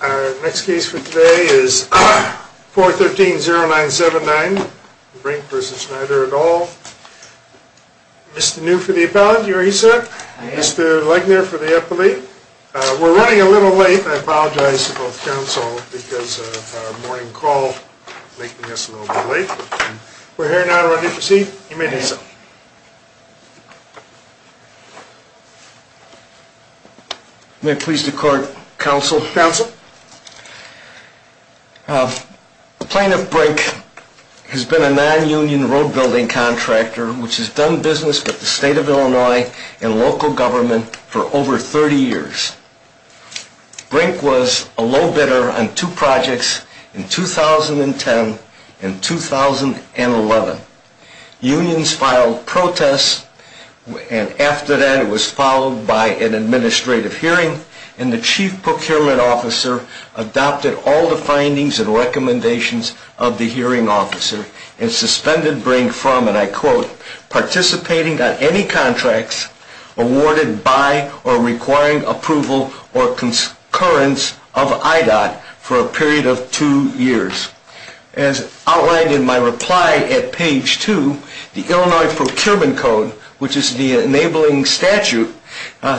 Our next case for today is 413-0979, Brink v. Schneider et al. Mr. New for the appellant, you're here sir. Mr. Legner for the appellate. We're running a little late and I apologize to both counsel because of our morning call making us a little bit late. We're here now to run you to your seat. You may do so. You may please decourt counsel. Plaintiff Brink has been a non-union road building contractor which has done business with the state of Illinois and local government for over 30 years. Brink was a low bidder on two projects in 2010 and 2011. Unions filed protests and after that it was followed by an administrative hearing and the chief procurement officer adopted all the findings and recommendations of the hearing officer and suspended Brink from, and I quote, participating on any contracts awarded by or requiring approval or concurrence of IDOT for a period of two years. As outlined in my reply at page two, the Illinois Procurement Code, which is the enabling statute,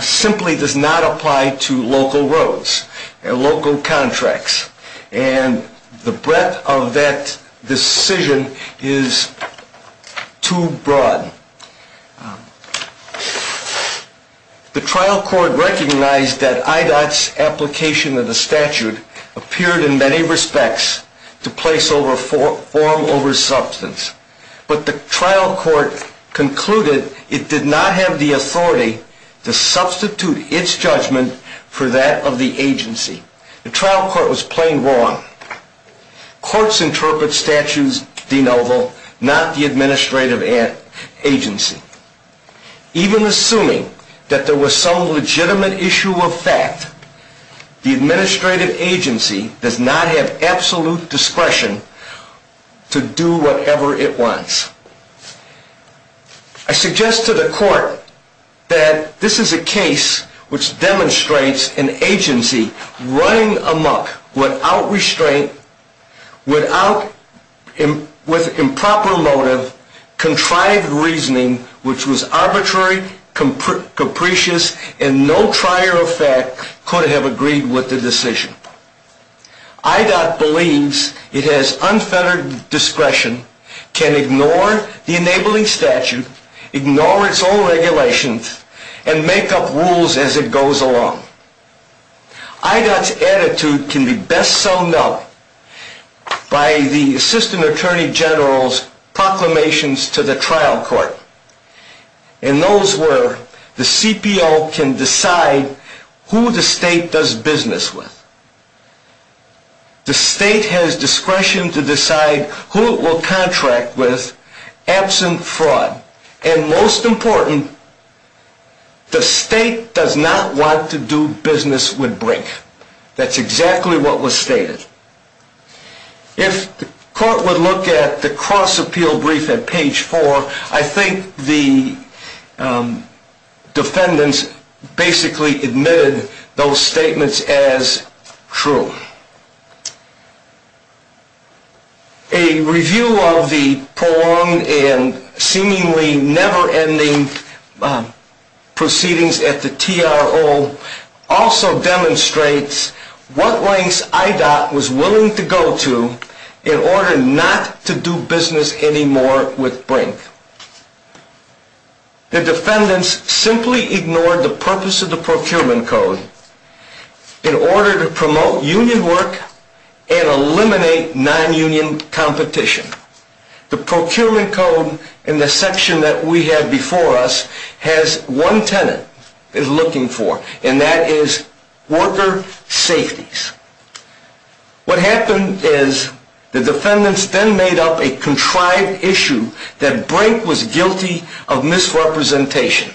simply does not apply to local roads and local contracts. And the breadth of that decision is too broad. The trial court recognized that IDOT's application of the statute appeared in many respects to place form over substance. But the trial court concluded it did not have the authority to substitute its judgment for that of the agency. The trial court was plain wrong. Courts interpret statutes de novo, not the administrative agency. Even assuming that there was some legitimate issue of fact, the administrative agency does not have absolute discretion to do whatever it wants. I suggest to the court that this is a case which demonstrates an agency running amok without restraint, with improper motive, contrived reasoning, which was arbitrary, capricious, and no trier of fact could have agreed with the decision. IDOT believes it has unfettered discretion, can ignore the enabling statute, ignore its own regulations, and make up rules as it goes along. IDOT's attitude can be best so known by the Assistant Attorney General's proclamations to the trial court. And those were, the CPO can decide who the state does business with. The state has discretion to decide who it will contract with, absent fraud. And most important, the state does not want to do business with Brink. That's exactly what was stated. If the court would look at the cross-appeal brief at page 4, I think the defendants basically admitted those statements as true. A review of the prolonged and seemingly never-ending proceedings at the TRO also demonstrates what lengths IDOT was willing to go to in order not to do business anymore with Brink. The defendants simply ignored the purpose of the Procurement Code in order to promote union work and eliminate non-union competition. The Procurement Code, in the section that we have before us, has one tenet it's looking for, and that is worker safeties. What happened is the defendants then made up a contrived issue that Brink was guilty of misrepresentation.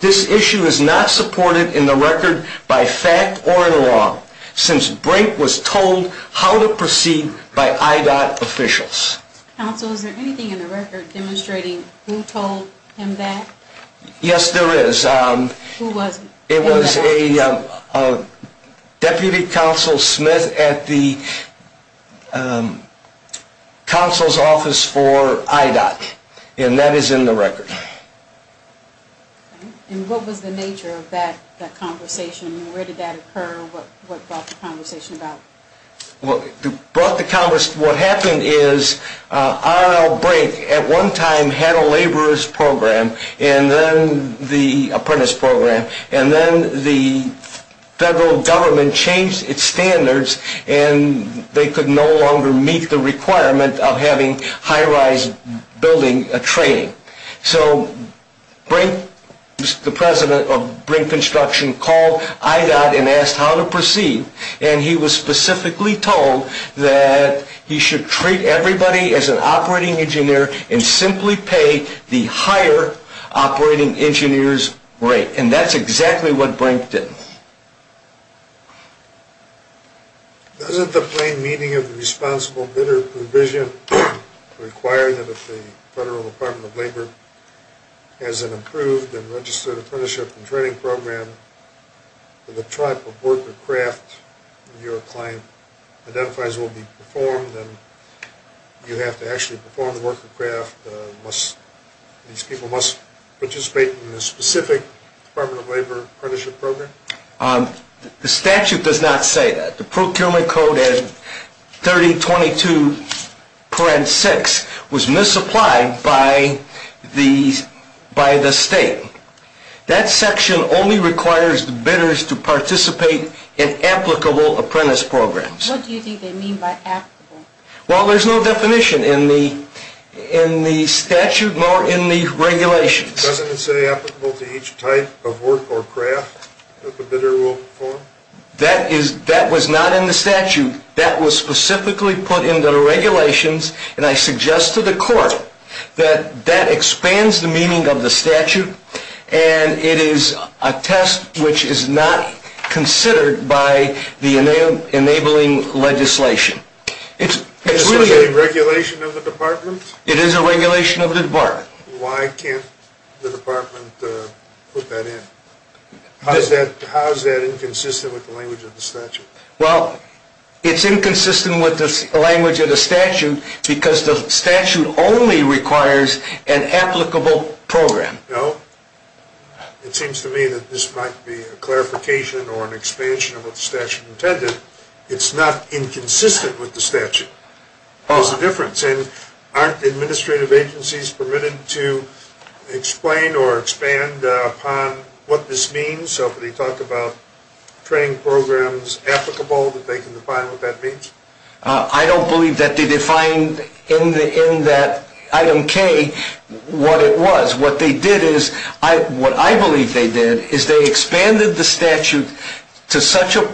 This issue is not supported in the record by fact or in law since Brink was told how to proceed by IDOT officials. Counsel, is there anything in the record demonstrating who told him that? Yes, there is. Who was it? It was a Deputy Counsel Smith at the Counsel's Office for IDOT, and that is in the record. What was the nature of that conversation? Where did that occur? What brought the conversation about? What happened is R.L. Brink at one time had a laborer's program, and then the apprentice program, and then the federal government changed its standards, and they could no longer meet the requirement of having high-rise building training. So Brink, the President of Brink Construction, called IDOT and asked how to proceed, and he was specifically told that he should treat everybody as an operating engineer and simply pay the higher operating engineer's rate. And that's exactly what Brink did. Doesn't the plain meaning of the responsible bidder provision require that if the Federal Department of Labor has an approved and registered apprenticeship and training program that the type of work or craft your client identifies will be performed, and you have to actually perform the work or craft, these people must participate in a specific Department of Labor apprenticeship program? The statute does not say that. The Procurement Code 3022.6 was misapplied by the state. That section only requires bidders to participate in applicable apprentice programs. What do you think they mean by applicable? Well, there's no definition in the statute nor in the regulations. Doesn't it say applicable to each type of work or craft that the bidder will perform? That was not in the statute. That was specifically put in the regulations, and I suggest to the court that that expands the meaning of the statute, and it is a test which is not considered by the enabling legislation. Is this a regulation of the Department? It is a regulation of the Department. Why can't the Department put that in? How is that inconsistent with the language of the statute? Well, it's inconsistent with the language of the statute because the statute only requires an applicable program. No. It seems to me that this might be a clarification or an expansion of what the statute intended. It's not inconsistent with the statute. What's the difference? And aren't administrative agencies permitted to explain or expand upon what this means? So if they talk about training programs applicable, that they can define what that means? I don't believe that they defined in that item K what it was. What I believe they did is they expanded the statute to such a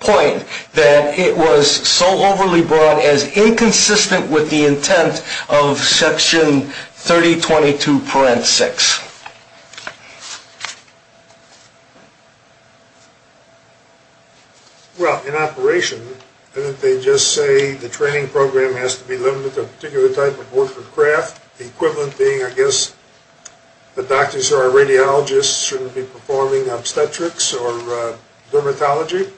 point that it was so overly broad as inconsistent with the intent of Section 3022 parenthesis. Well, in operation, didn't they just say the training program has to be limited to a particular type of work or craft, the equivalent being, I guess, that doctors or radiologists shouldn't be performing obstetrics or dermatology?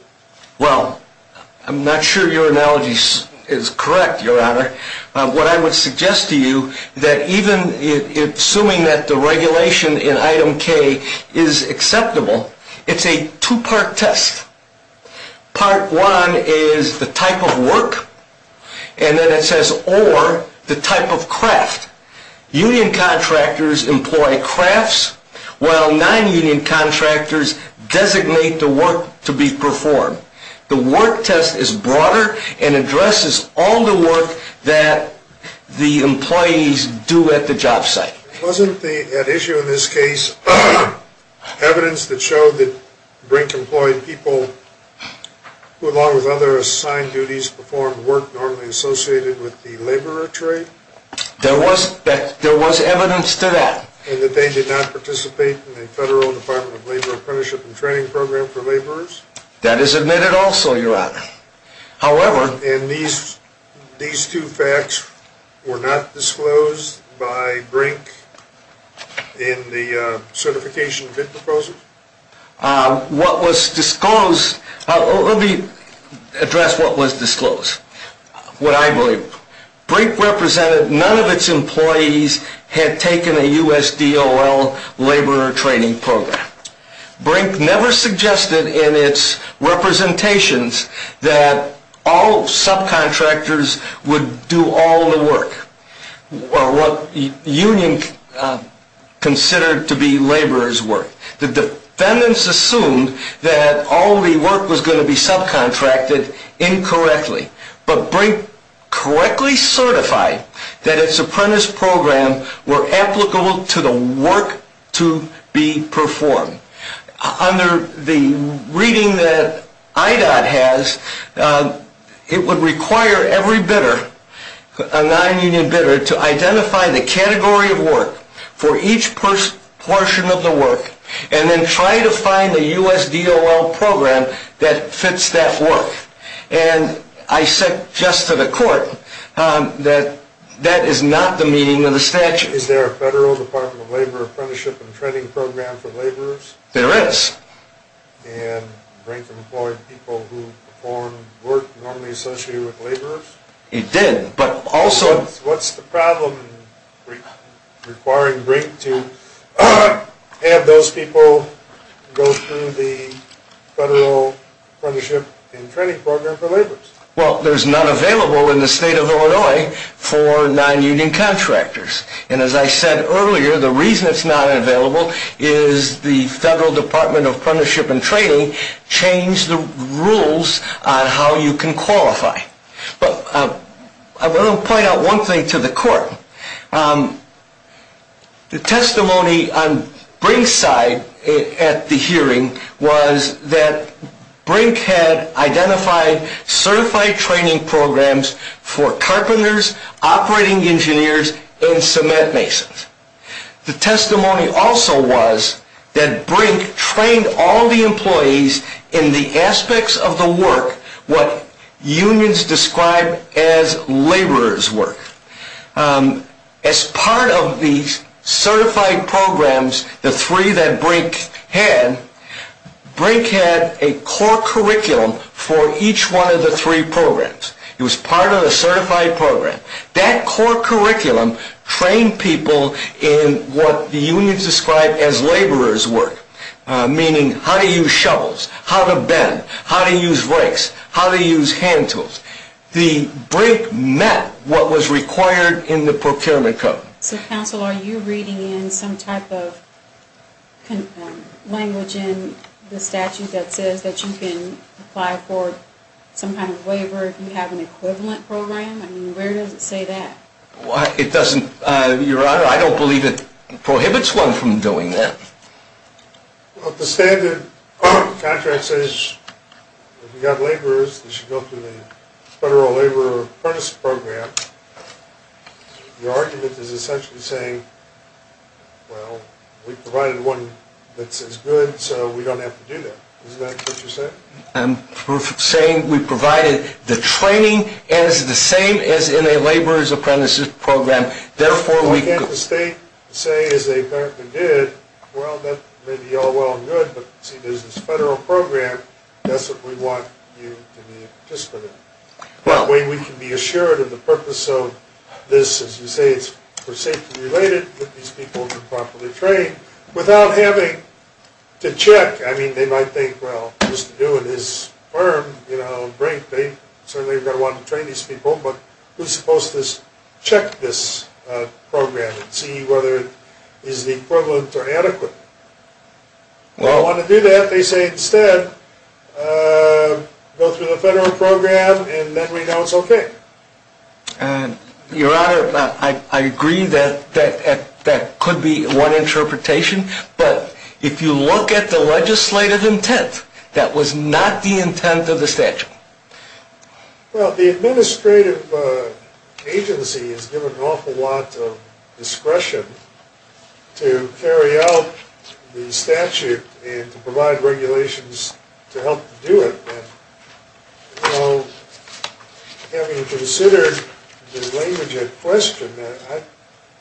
Well, I'm not sure your analogy is correct, Your Honor. What I would suggest to you, that even assuming that the regulation in item K is acceptable, it's a two-part test. Part one is the type of work, and then it says, or the type of craft. Union contractors employ crafts, while non-union contractors designate the work to be performed. The work test is broader and addresses all the work that the employees do at the job site. Wasn't the issue in this case evidence that showed that Brink employed people who, along with other assigned duties, performed work normally associated with the laborer trade? There was evidence to that. And that they did not participate in the Federal Department of Labor Apprenticeship and Training Program for laborers? That is admitted also, Your Honor. And these two facts were not disclosed by Brink in the certification bid proposal? Let me address what was disclosed, what I believe. Brink represented none of its employees had taken a USDOL laborer training program. Brink never suggested in its representations that all subcontractors would do all the work, or what union considered to be laborer's work. The defendants assumed that all the work was going to be subcontracted incorrectly. But Brink correctly certified that its apprentice programs were applicable to the work to be performed. Under the reading that IDOT has, it would require every bidder, a non-union bidder, to identify the category of work for each portion of the work and then try to find a USDOL program that fits that work. And I suggest to the court that that is not the meaning of the statute. Is there a Federal Department of Labor Apprenticeship and Training Program for laborers? There is. And Brink employed people who performed work normally associated with laborers? It did, but also... What's the problem requiring Brink to have those people go through the Federal Apprenticeship and Training Program for laborers? Well, there's none available in the state of Illinois for non-union contractors. And as I said earlier, the reason it's not available is the Federal Department of Apprenticeship and Training changed the rules on how you can qualify. But I want to point out one thing to the court. The testimony on Brink's side at the hearing was that Brink had identified certified training programs for carpenters, operating engineers, and cement masons. The testimony also was that Brink trained all the employees in the aspects of the work, what unions describe as laborer's work. As part of these certified programs, the three that Brink had, Brink had a core curriculum for each one of the three programs. It was part of a certified program. That core curriculum trained people in what the unions described as laborer's work, meaning how to use shovels, how to bend, how to use rakes, how to use hand tools. The Brink met what was required in the procurement code. So, counsel, are you reading in some type of language in the statute that says that you can apply for some kind of waiver if you have an equivalent program? I mean, where does it say that? It doesn't. Your Honor, I don't believe it prohibits one from doing that. Well, the standard contract says if you've got laborers, you should go through the Federal Laborer Apprentice Program. Your argument is essentially saying, well, we provided one that's as good, so we don't have to do that. Isn't that what you're saying? I'm saying we provided the training and it's the same as in a laborer's apprentice program. Therefore, we can't just say, as they apparently did, well, that may be all well and good, but since it's a federal program, that's what we want you to be a participant in. That way, we can be assured of the purpose of this. As you say, it's for safety related that these people are properly trained. Without having to check, I mean, they might think, well, just to do it is firm. They certainly are going to want to train these people, but who's supposed to check this program and see whether it is the equivalent or adequate? Well, I want to do that. They say, instead, go through the federal program and then we know it's okay. Your Honor, I agree that that could be one interpretation, but if you look at the legislative intent, that was not the intent of the statute. Well, the administrative agency has given an awful lot of discretion to carry out the statute and to provide regulations to help do it. Now, having considered the language at question,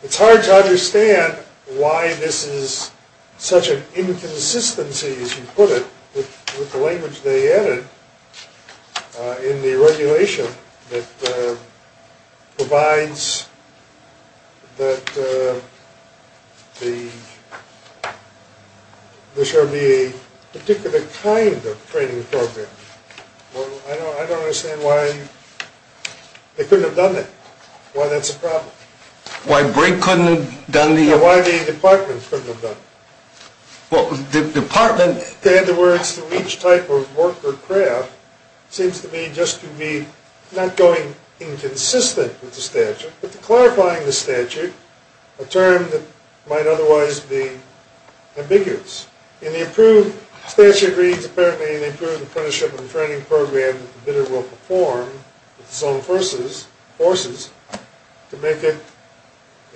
it's hard to understand why this is such an inconsistency, as you put it, with the language they added in the regulation that provides that there shall be a particular kind of training program. Well, I don't understand why they couldn't have done that, why that's a problem. Why Brink couldn't have done the… Why the department couldn't have done it. Well, the department… To add the words to each type of work or craft seems to me just to be not going inconsistent with the statute, but clarifying the statute, a term that might otherwise be ambiguous. In the approved statute reads, apparently, in the approved apprenticeship and training program that the bidder will perform with his own forces to make it,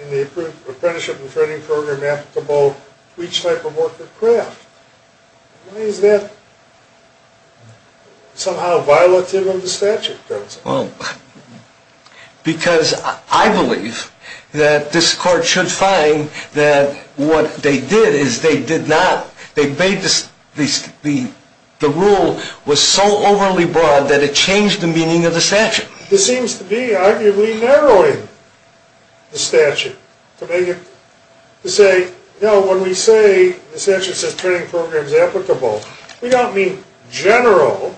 in the approved apprenticeship and training program applicable to each type of work or craft. Why is that somehow violative of the statute? Because I believe that this court should find that what they did is they did not, they made this, the rule was so overly broad that it changed the meaning of the statute. This seems to be, arguably, narrowing the statute to make it, to say, no, when we say the statute says training program is applicable, we don't mean general,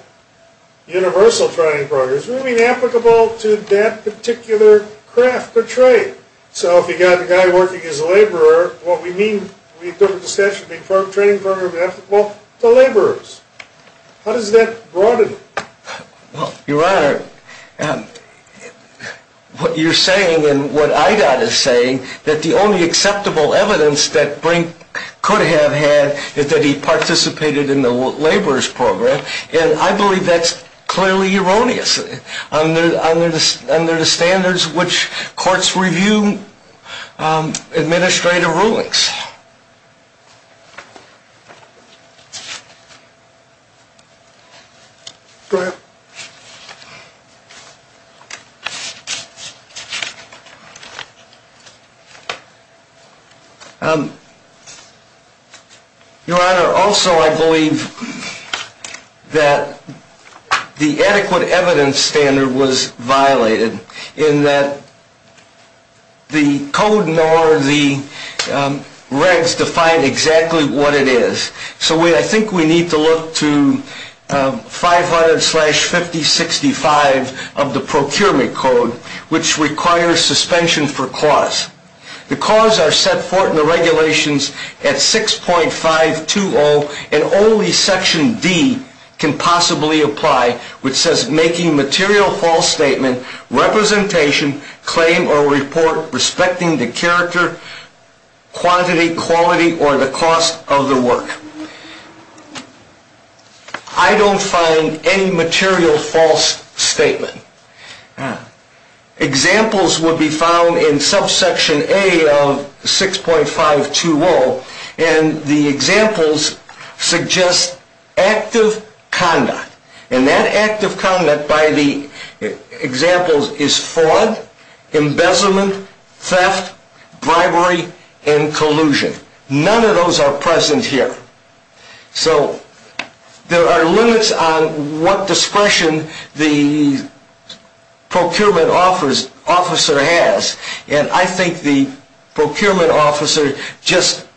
universal training programs, we mean applicable to that particular craft or trade. So if you've got a guy working as a laborer, what we mean, we took the statute to be training program applicable to laborers. How does that broaden it? Your Honor, what you're saying and what I got is saying that the only acceptable evidence that Brink could have had is that he participated in the laborer's program. And I believe that's clearly erroneous under the standards which courts review administrative rulings. Your Honor, also I believe that the adequate evidence standard was violated in that the code nor the regs define exactly what it is. So I think we need to look to 500-5065 of the procurement code, which requires suspension for cause. The cause are set forth in the regulations at 6.520, and only section D can possibly apply, which says making material false statement, representation, claim or report respecting the character, quantity, quality, or the cost of the work. I don't find any material false statement. Examples would be found in subsection A of 6.520, and the examples suggest active conduct. And that active conduct by the examples is fraud, embezzlement, theft, bribery, and collusion. None of those are present here. So there are limits on what discretion the procurement officer has. And I think the procurement officer just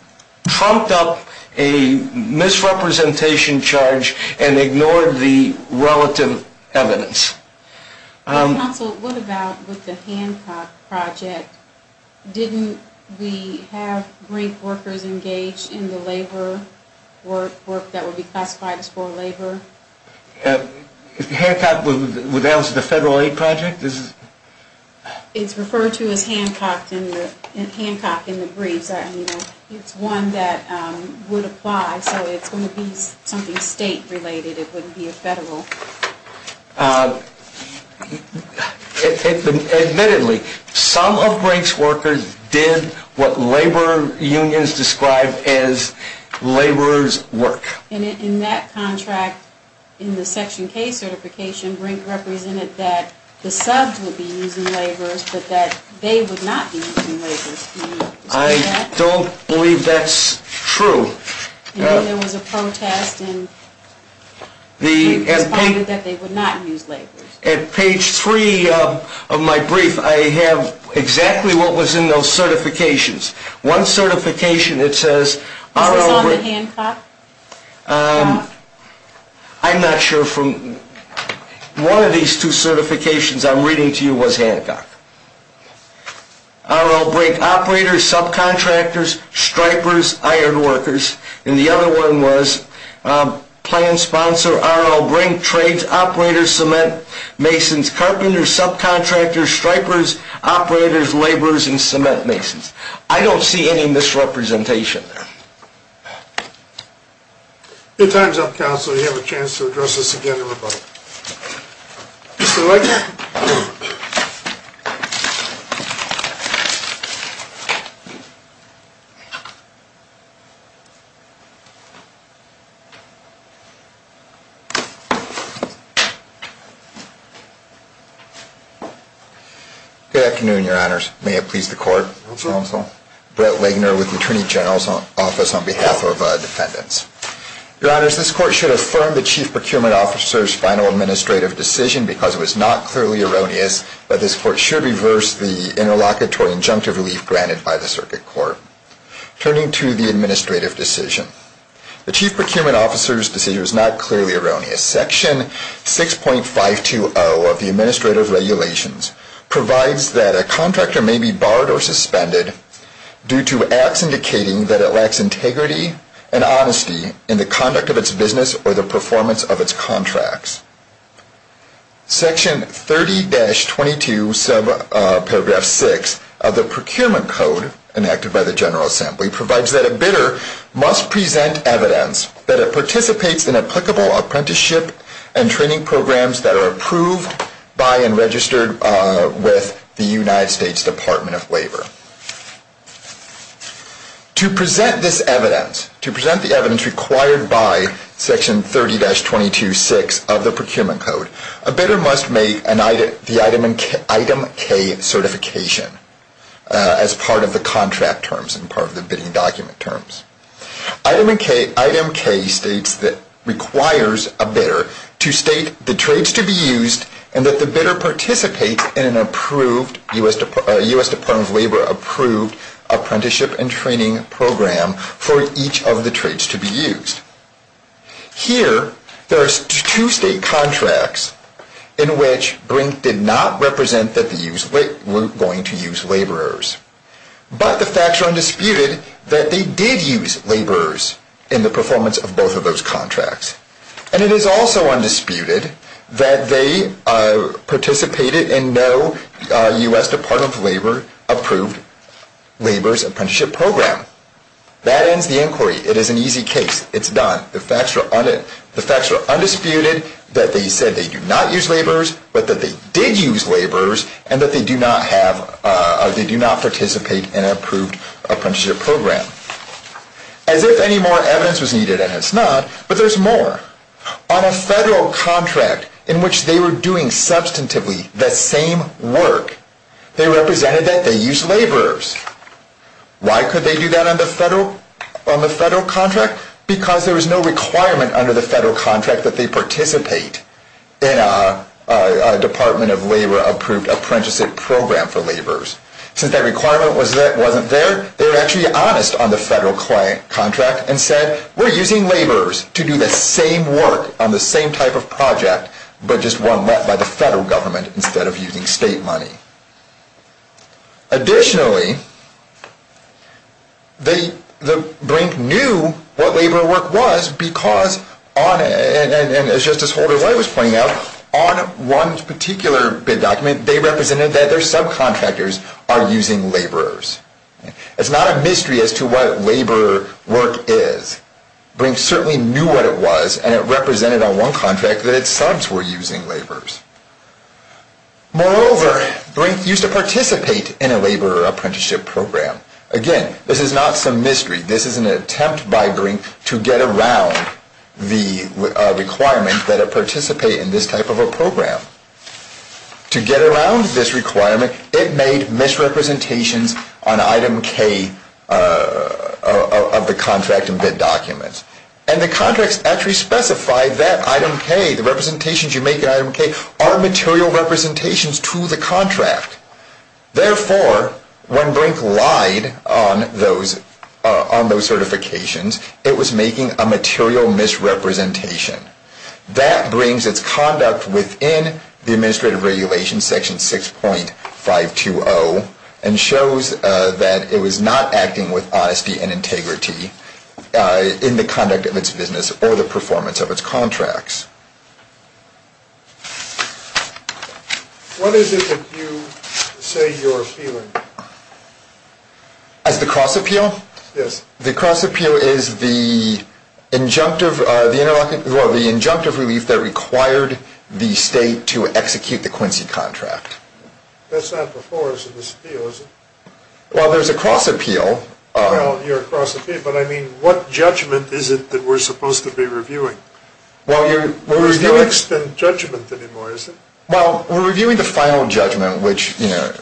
trumped up a misrepresentation charge and ignored the relative evidence. Counsel, what about with the Hancock project? Didn't we have brief workers engaged in the labor work that would be classified as for labor? Hancock would answer the federal aid project? It's referred to as Hancock in the briefs. It's one that would apply, so it's going to be something state-related. It wouldn't be a federal. Admittedly, some of Brink's workers did what labor unions describe as laborer's work. And in that contract, in the section K certification, Brink represented that the subs would be using laborers, but that they would not be using laborers. Can you explain that? I don't believe that's true. There was a protest, and Brink responded that they would not use laborers. At page 3 of my brief, I have exactly what was in those certifications. One certification, it says R.L. Brink. Is this on the Hancock? I'm not sure. One of these two certifications I'm reading to you was Hancock. R.L. Brink operators, subcontractors, stripers, iron workers. And the other one was plan sponsor, R.L. Brink, trades operators, cement masons, carpenters, subcontractors, stripers, operators, laborers, and cement masons. I don't see any misrepresentation there. Your time's up, Counselor. Mr. Legner. Good afternoon, Your Honors. May it please the Court. Counsel. Brett Legner with the Attorney General's Office on behalf of defendants. Your Honors, this Court should affirm the Chief Procurement Officer's final administrative decision because it was not clearly erroneous that this Court should reverse the interlocutory injunctive relief granted by the Circuit Court. Turning to the administrative decision. The Chief Procurement Officer's decision was not clearly erroneous. Section 6.520 of the Administrative Regulations provides that a contractor may be barred or suspended due to acts indicating that it lacks integrity and honesty in the conduct of its business or the performance of its contracts. Section 30-22 subparagraph 6 of the Procurement Code enacted by the General Assembly provides that a bidder must present evidence that it participates in applicable apprenticeship and training programs that are approved by and registered with the United States Department of Labor. To present this evidence, to present the evidence required by Section 30-22.6 of the Procurement Code, a bidder must make the Item K certification as part of the contract terms and part of the bidding document terms. Item K states that it requires a bidder to state the trades to be used and that the bidder participates in an approved U.S. Department of Labor approved apprenticeship and training program for each of the trades to be used. Here, there are two state contracts in which Brink did not represent that they were going to use laborers, but the facts are undisputed that they did use laborers in the performance of both of those contracts. And it is also undisputed that they participated in no U.S. Department of Labor approved laborers apprenticeship program. That ends the inquiry. It is an easy case. It's done. The facts are undisputed that they said they do not use laborers, but that they did use laborers, and that they do not participate in an approved apprenticeship program. As if any more evidence was needed, and it's not, but there's more. On a federal contract in which they were doing substantively the same work, they represented that they used laborers. Why could they do that on the federal contract? Because there was no requirement under the federal contract that they participate in a Department of Labor approved apprenticeship program for laborers. Since that requirement wasn't there, they were actually honest on the federal contract and said, we're using laborers to do the same work on the same type of project, but just one led by the federal government instead of using state money. Additionally, Brink knew what laborer work was because, and as Justice Holder-White was pointing out, on one particular bid document they represented that their subcontractors are using laborers. It's not a mystery as to what laborer work is. Brink certainly knew what it was, and it represented on one contract that its subs were using laborers. Moreover, Brink used to participate in a laborer apprenticeship program. Again, this is not some mystery. This is an attempt by Brink to get around the requirement that it participate in this type of a program. To get around this requirement, it made misrepresentations on item K of the contract and bid documents. And the contract actually specified that item K, the representations you make in item K, are material representations to the contract. Therefore, when Brink lied on those certifications, it was making a material misrepresentation. That brings its conduct within the Administrative Regulations Section 6.520 and shows that it was not acting with honesty and integrity in the conduct of its business or the performance of its contracts. What is it that you say you're appealing? As the cross-appeal? Yes. The cross-appeal is the injunctive relief that required the state to execute the Quincy contract. That's not before us in this appeal, is it? Well, there's a cross-appeal. Well, you're cross-appealing, but I mean, what judgment is it that we're supposed to be reviewing? There's no extent judgment anymore, is there? Well, we're reviewing the final judgment, which, you know,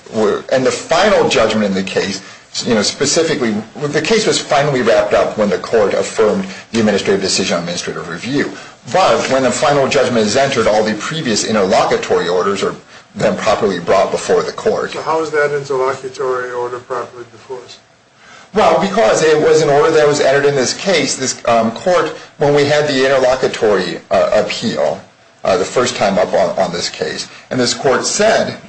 and the final judgment in the case, you know, specifically, the case was finally wrapped up when the court affirmed the Administrative Decision on Administrative Review. But when the final judgment is entered, all the previous interlocutory orders are then properly brought before the court. So how is that interlocutory order properly before us? Well, because it was an order that was entered in this case, this court, when we had the interlocutory appeal the first time up on this case, and this court said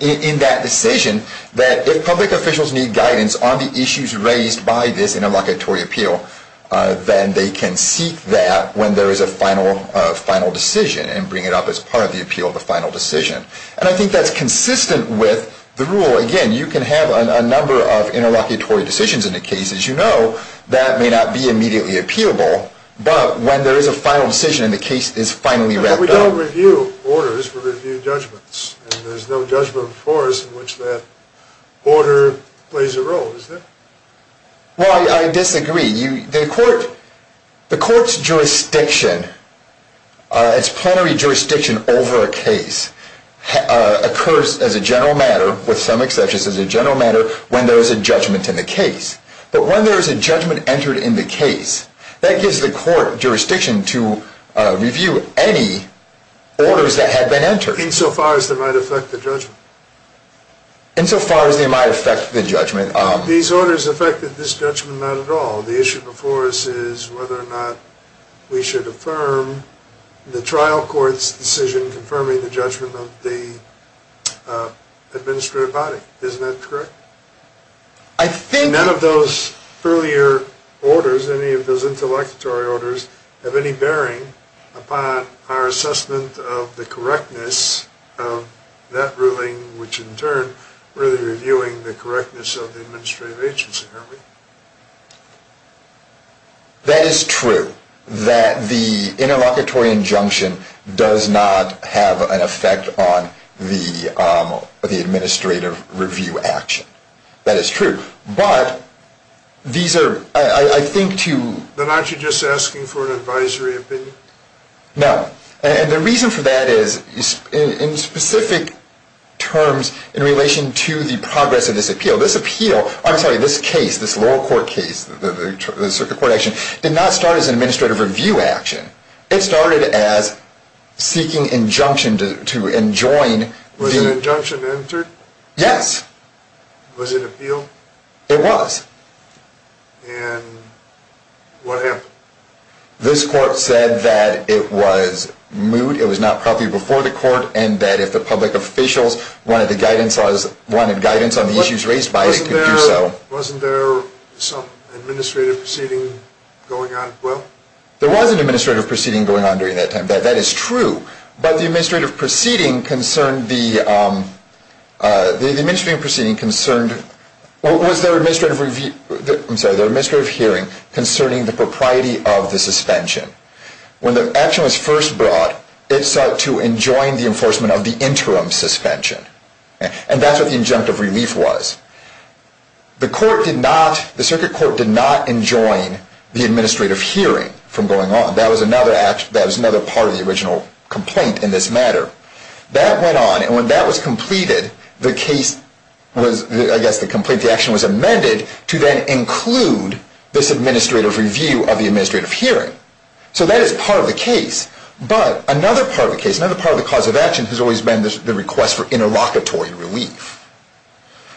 in that decision that if public officials need guidance on the issues raised by this interlocutory appeal, then they can seek that when there is a final decision and bring it up as part of the appeal of the final decision. And I think that's consistent with the rule. So again, you can have a number of interlocutory decisions in a case, as you know, that may not be immediately appealable, but when there is a final decision and the case is finally wrapped up... But we don't review orders, we review judgments, and there's no judgment before us in which that order plays a role, is there? Well, I disagree. The court's jurisdiction, its plenary jurisdiction over a case, occurs as a general matter, with some exceptions, as a general matter when there is a judgment in the case. But when there is a judgment entered in the case, that gives the court jurisdiction to review any orders that had been entered. Insofar as they might affect the judgment. These orders affected this judgment not at all. The issue before us is whether or not we should affirm the trial court's decision confirming the judgment of the administrative body. Isn't that correct? I think... None of those earlier orders, any of those interlocutory orders, have any bearing upon our assessment of the correctness of that ruling, which in turn, really reviewing the correctness of the administrative agency, aren't we? That is true, that the interlocutory injunction does not have an effect on the administrative review action. That is true. But, these are, I think to... Then aren't you just asking for an advisory opinion? No. And the reason for that is, in specific terms, in relation to the progress of this appeal, this appeal... I'm sorry, this case, this lower court case, the circuit court action, did not start as an administrative review action. It started as seeking injunction to enjoin the... Was an injunction entered? Yes. Was it appealed? It was. And, what happened? This court said that it was moot, it was not properly before the court, and that if the public officials wanted guidance on the issues raised by it, they could do so. Wasn't there some administrative proceeding going on as well? There was an administrative proceeding going on during that time. That is true. But the administrative proceeding concerned the... The administrative proceeding concerned... Was their administrative review... I'm sorry, their administrative hearing concerning the propriety of the suspension. When the action was first brought, it sought to enjoin the enforcement of the interim suspension. And that's what the injunctive relief was. The court did not... The circuit court did not enjoin the administrative hearing from going on. That was another part of the original complaint in this matter. That went on, and when that was completed, the case was... I guess the complaint... The action was amended to then include this administrative review of the administrative hearing. So that is part of the case. But another part of the case, another part of the cause of action, has always been the request for interlocutory relief.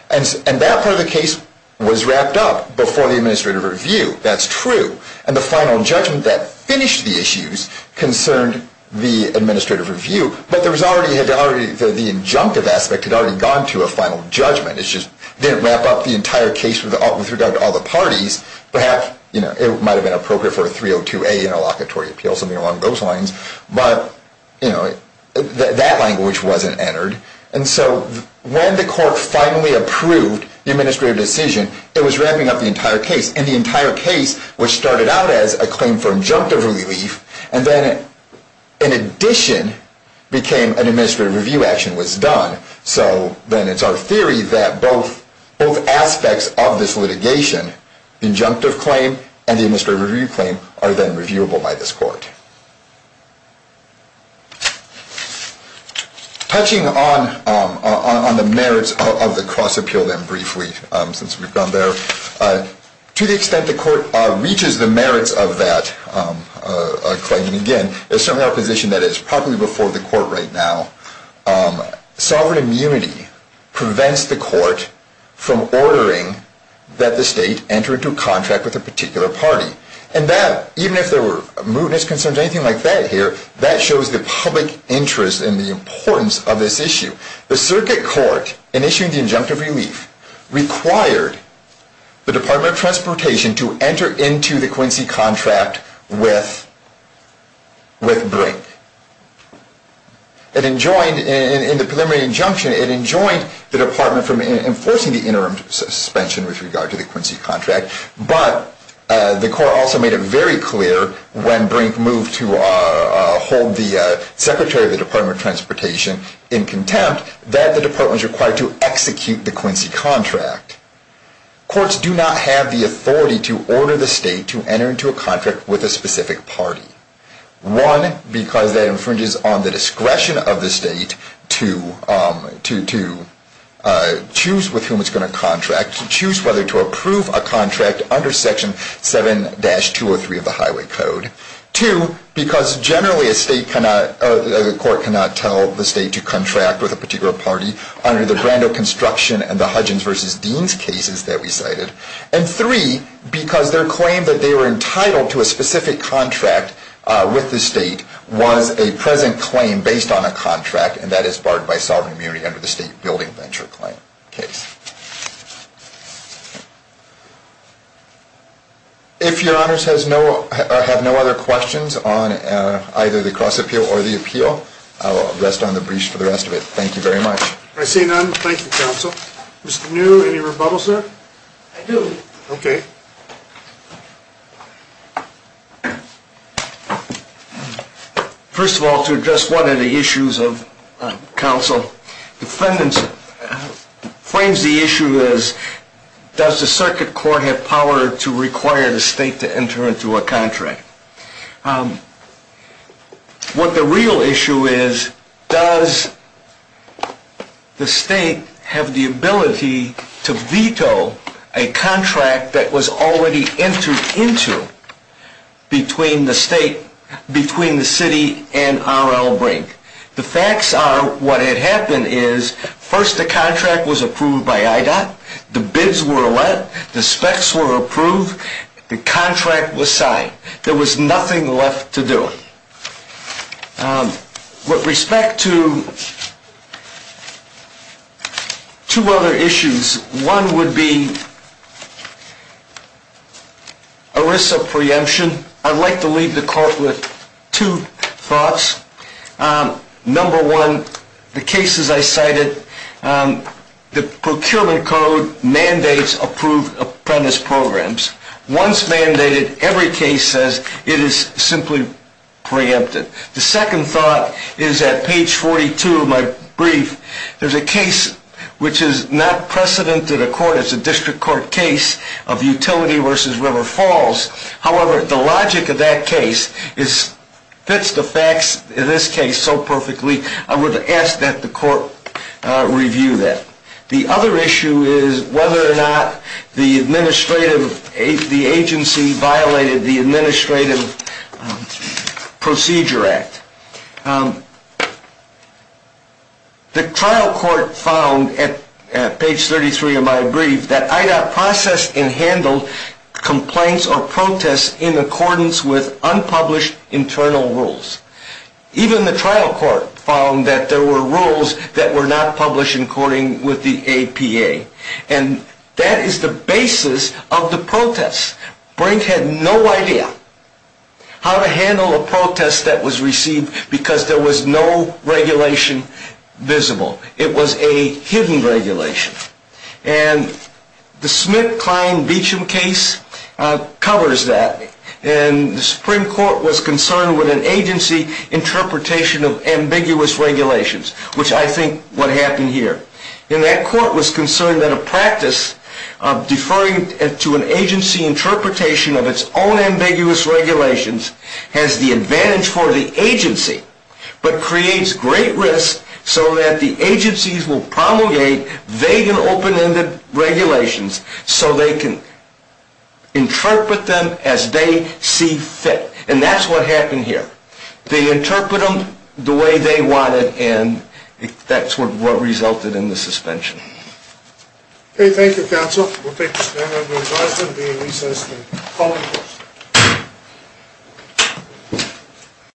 And that part of the case was wrapped up before the administrative review. That's true. And the final judgment that finished the issues concerned the administrative review. But there was already... The injunctive aspect had already gone to a final judgment. It just didn't wrap up the entire case with regard to all the parties. Perhaps, you know, it might have been appropriate for a 302A interlocutory appeal, something along those lines. But, you know, that language wasn't entered. And so when the court finally approved the administrative decision, it was wrapping up the entire case. And the entire case was started out as a claim for injunctive relief, and then in addition became an administrative review action was done. So then it's our theory that both aspects of this litigation, injunctive claim and the administrative review claim, are then reviewable by this court. Okay. Touching on the merits of the cross-appeal then briefly, since we've gone there. To the extent the court reaches the merits of that claim, and again, it's certainly our position that it's probably before the court right now, sovereign immunity prevents the court from ordering that the state enter into a contract with a particular party. And that, even if there were mootness concerns or anything like that here, that shows the public interest and the importance of this issue. The circuit court, in issuing the injunctive relief, required the Department of Transportation to enter into the Quincy contract with Brink. It enjoined, in the preliminary injunction, it enjoined the department from enforcing the interim suspension with regard to the Quincy contract, but the court also made it very clear when Brink moved to hold the Secretary of the Department of Transportation in contempt that the department was required to execute the Quincy contract. Courts do not have the authority to order the state to enter into a contract with a specific party. One, because that infringes on the discretion of the state to choose with whom it's going to contract, to choose whether to approve a contract under Section 7-203 of the Highway Code. Two, because generally a state cannot, the court cannot tell the state to contract with a particular party under the Brando Construction and the Hudgens v. Deans cases that we cited. And three, because their claim that they were entitled to a specific contract with the state was a present claim based on a contract, and that is barred by sovereign immunity under the State Building Venture Claim case. If your honors have no other questions on either the cross-appeal or the appeal, I'll rest on the briefs for the rest of it. Thank you very much. I see none. Thank you, counsel. Mr. New, any rebuttals there? I do. Okay. Thank you. First of all, to address one of the issues of counsel, defendants frames the issue as, does the circuit court have power to require the state to enter into a contract? What the real issue is, does the state have the ability to veto a contract that was already entered into between the state, between the city and R.L. Brink? The facts are what had happened is, first the contract was approved by IDOT, the bids were let, the specs were approved, the contract was signed. There was nothing left to do. With respect to two other issues, one would be ERISA preemption. I'd like to leave the court with two thoughts. Number one, the cases I cited, the procurement code mandates approved apprentice programs. Once mandated, every case says it is simply preempted. The second thought is that page 42 of my brief, there's a case which is not precedent to the court, it's a district court case of utility versus River Falls. However, the logic of that case fits the facts in this case so perfectly, I would ask that the court review that. The other issue is whether or not the agency violated the Administrative Procedure Act. The trial court found, at page 33 of my brief, that IDOT processed and handled complaints or protests in accordance with unpublished internal rules. Even the trial court found that there were rules that were not published in accordance with the APA. And that is the basis of the protests. Brink had no idea how to handle a protest that was received because there was no regulation visible. It was a hidden regulation. And the Smith, Klein, Beecham case covers that. And the Supreme Court was concerned with an agency interpretation of ambiguous regulations, which I think what happened here. And that court was concerned that a practice of deferring to an agency interpretation of its own ambiguous regulations has the advantage for the agency, but creates great risk so that the agencies will promulgate vague and open-ended regulations so they can interpret them as they see fit. And that's what happened here. They interpreted them the way they wanted, and that's what resulted in the suspension. Okay, thank you, counsel. We'll take a stand. My name is Arthur. I'll be in recess until 12 o'clock.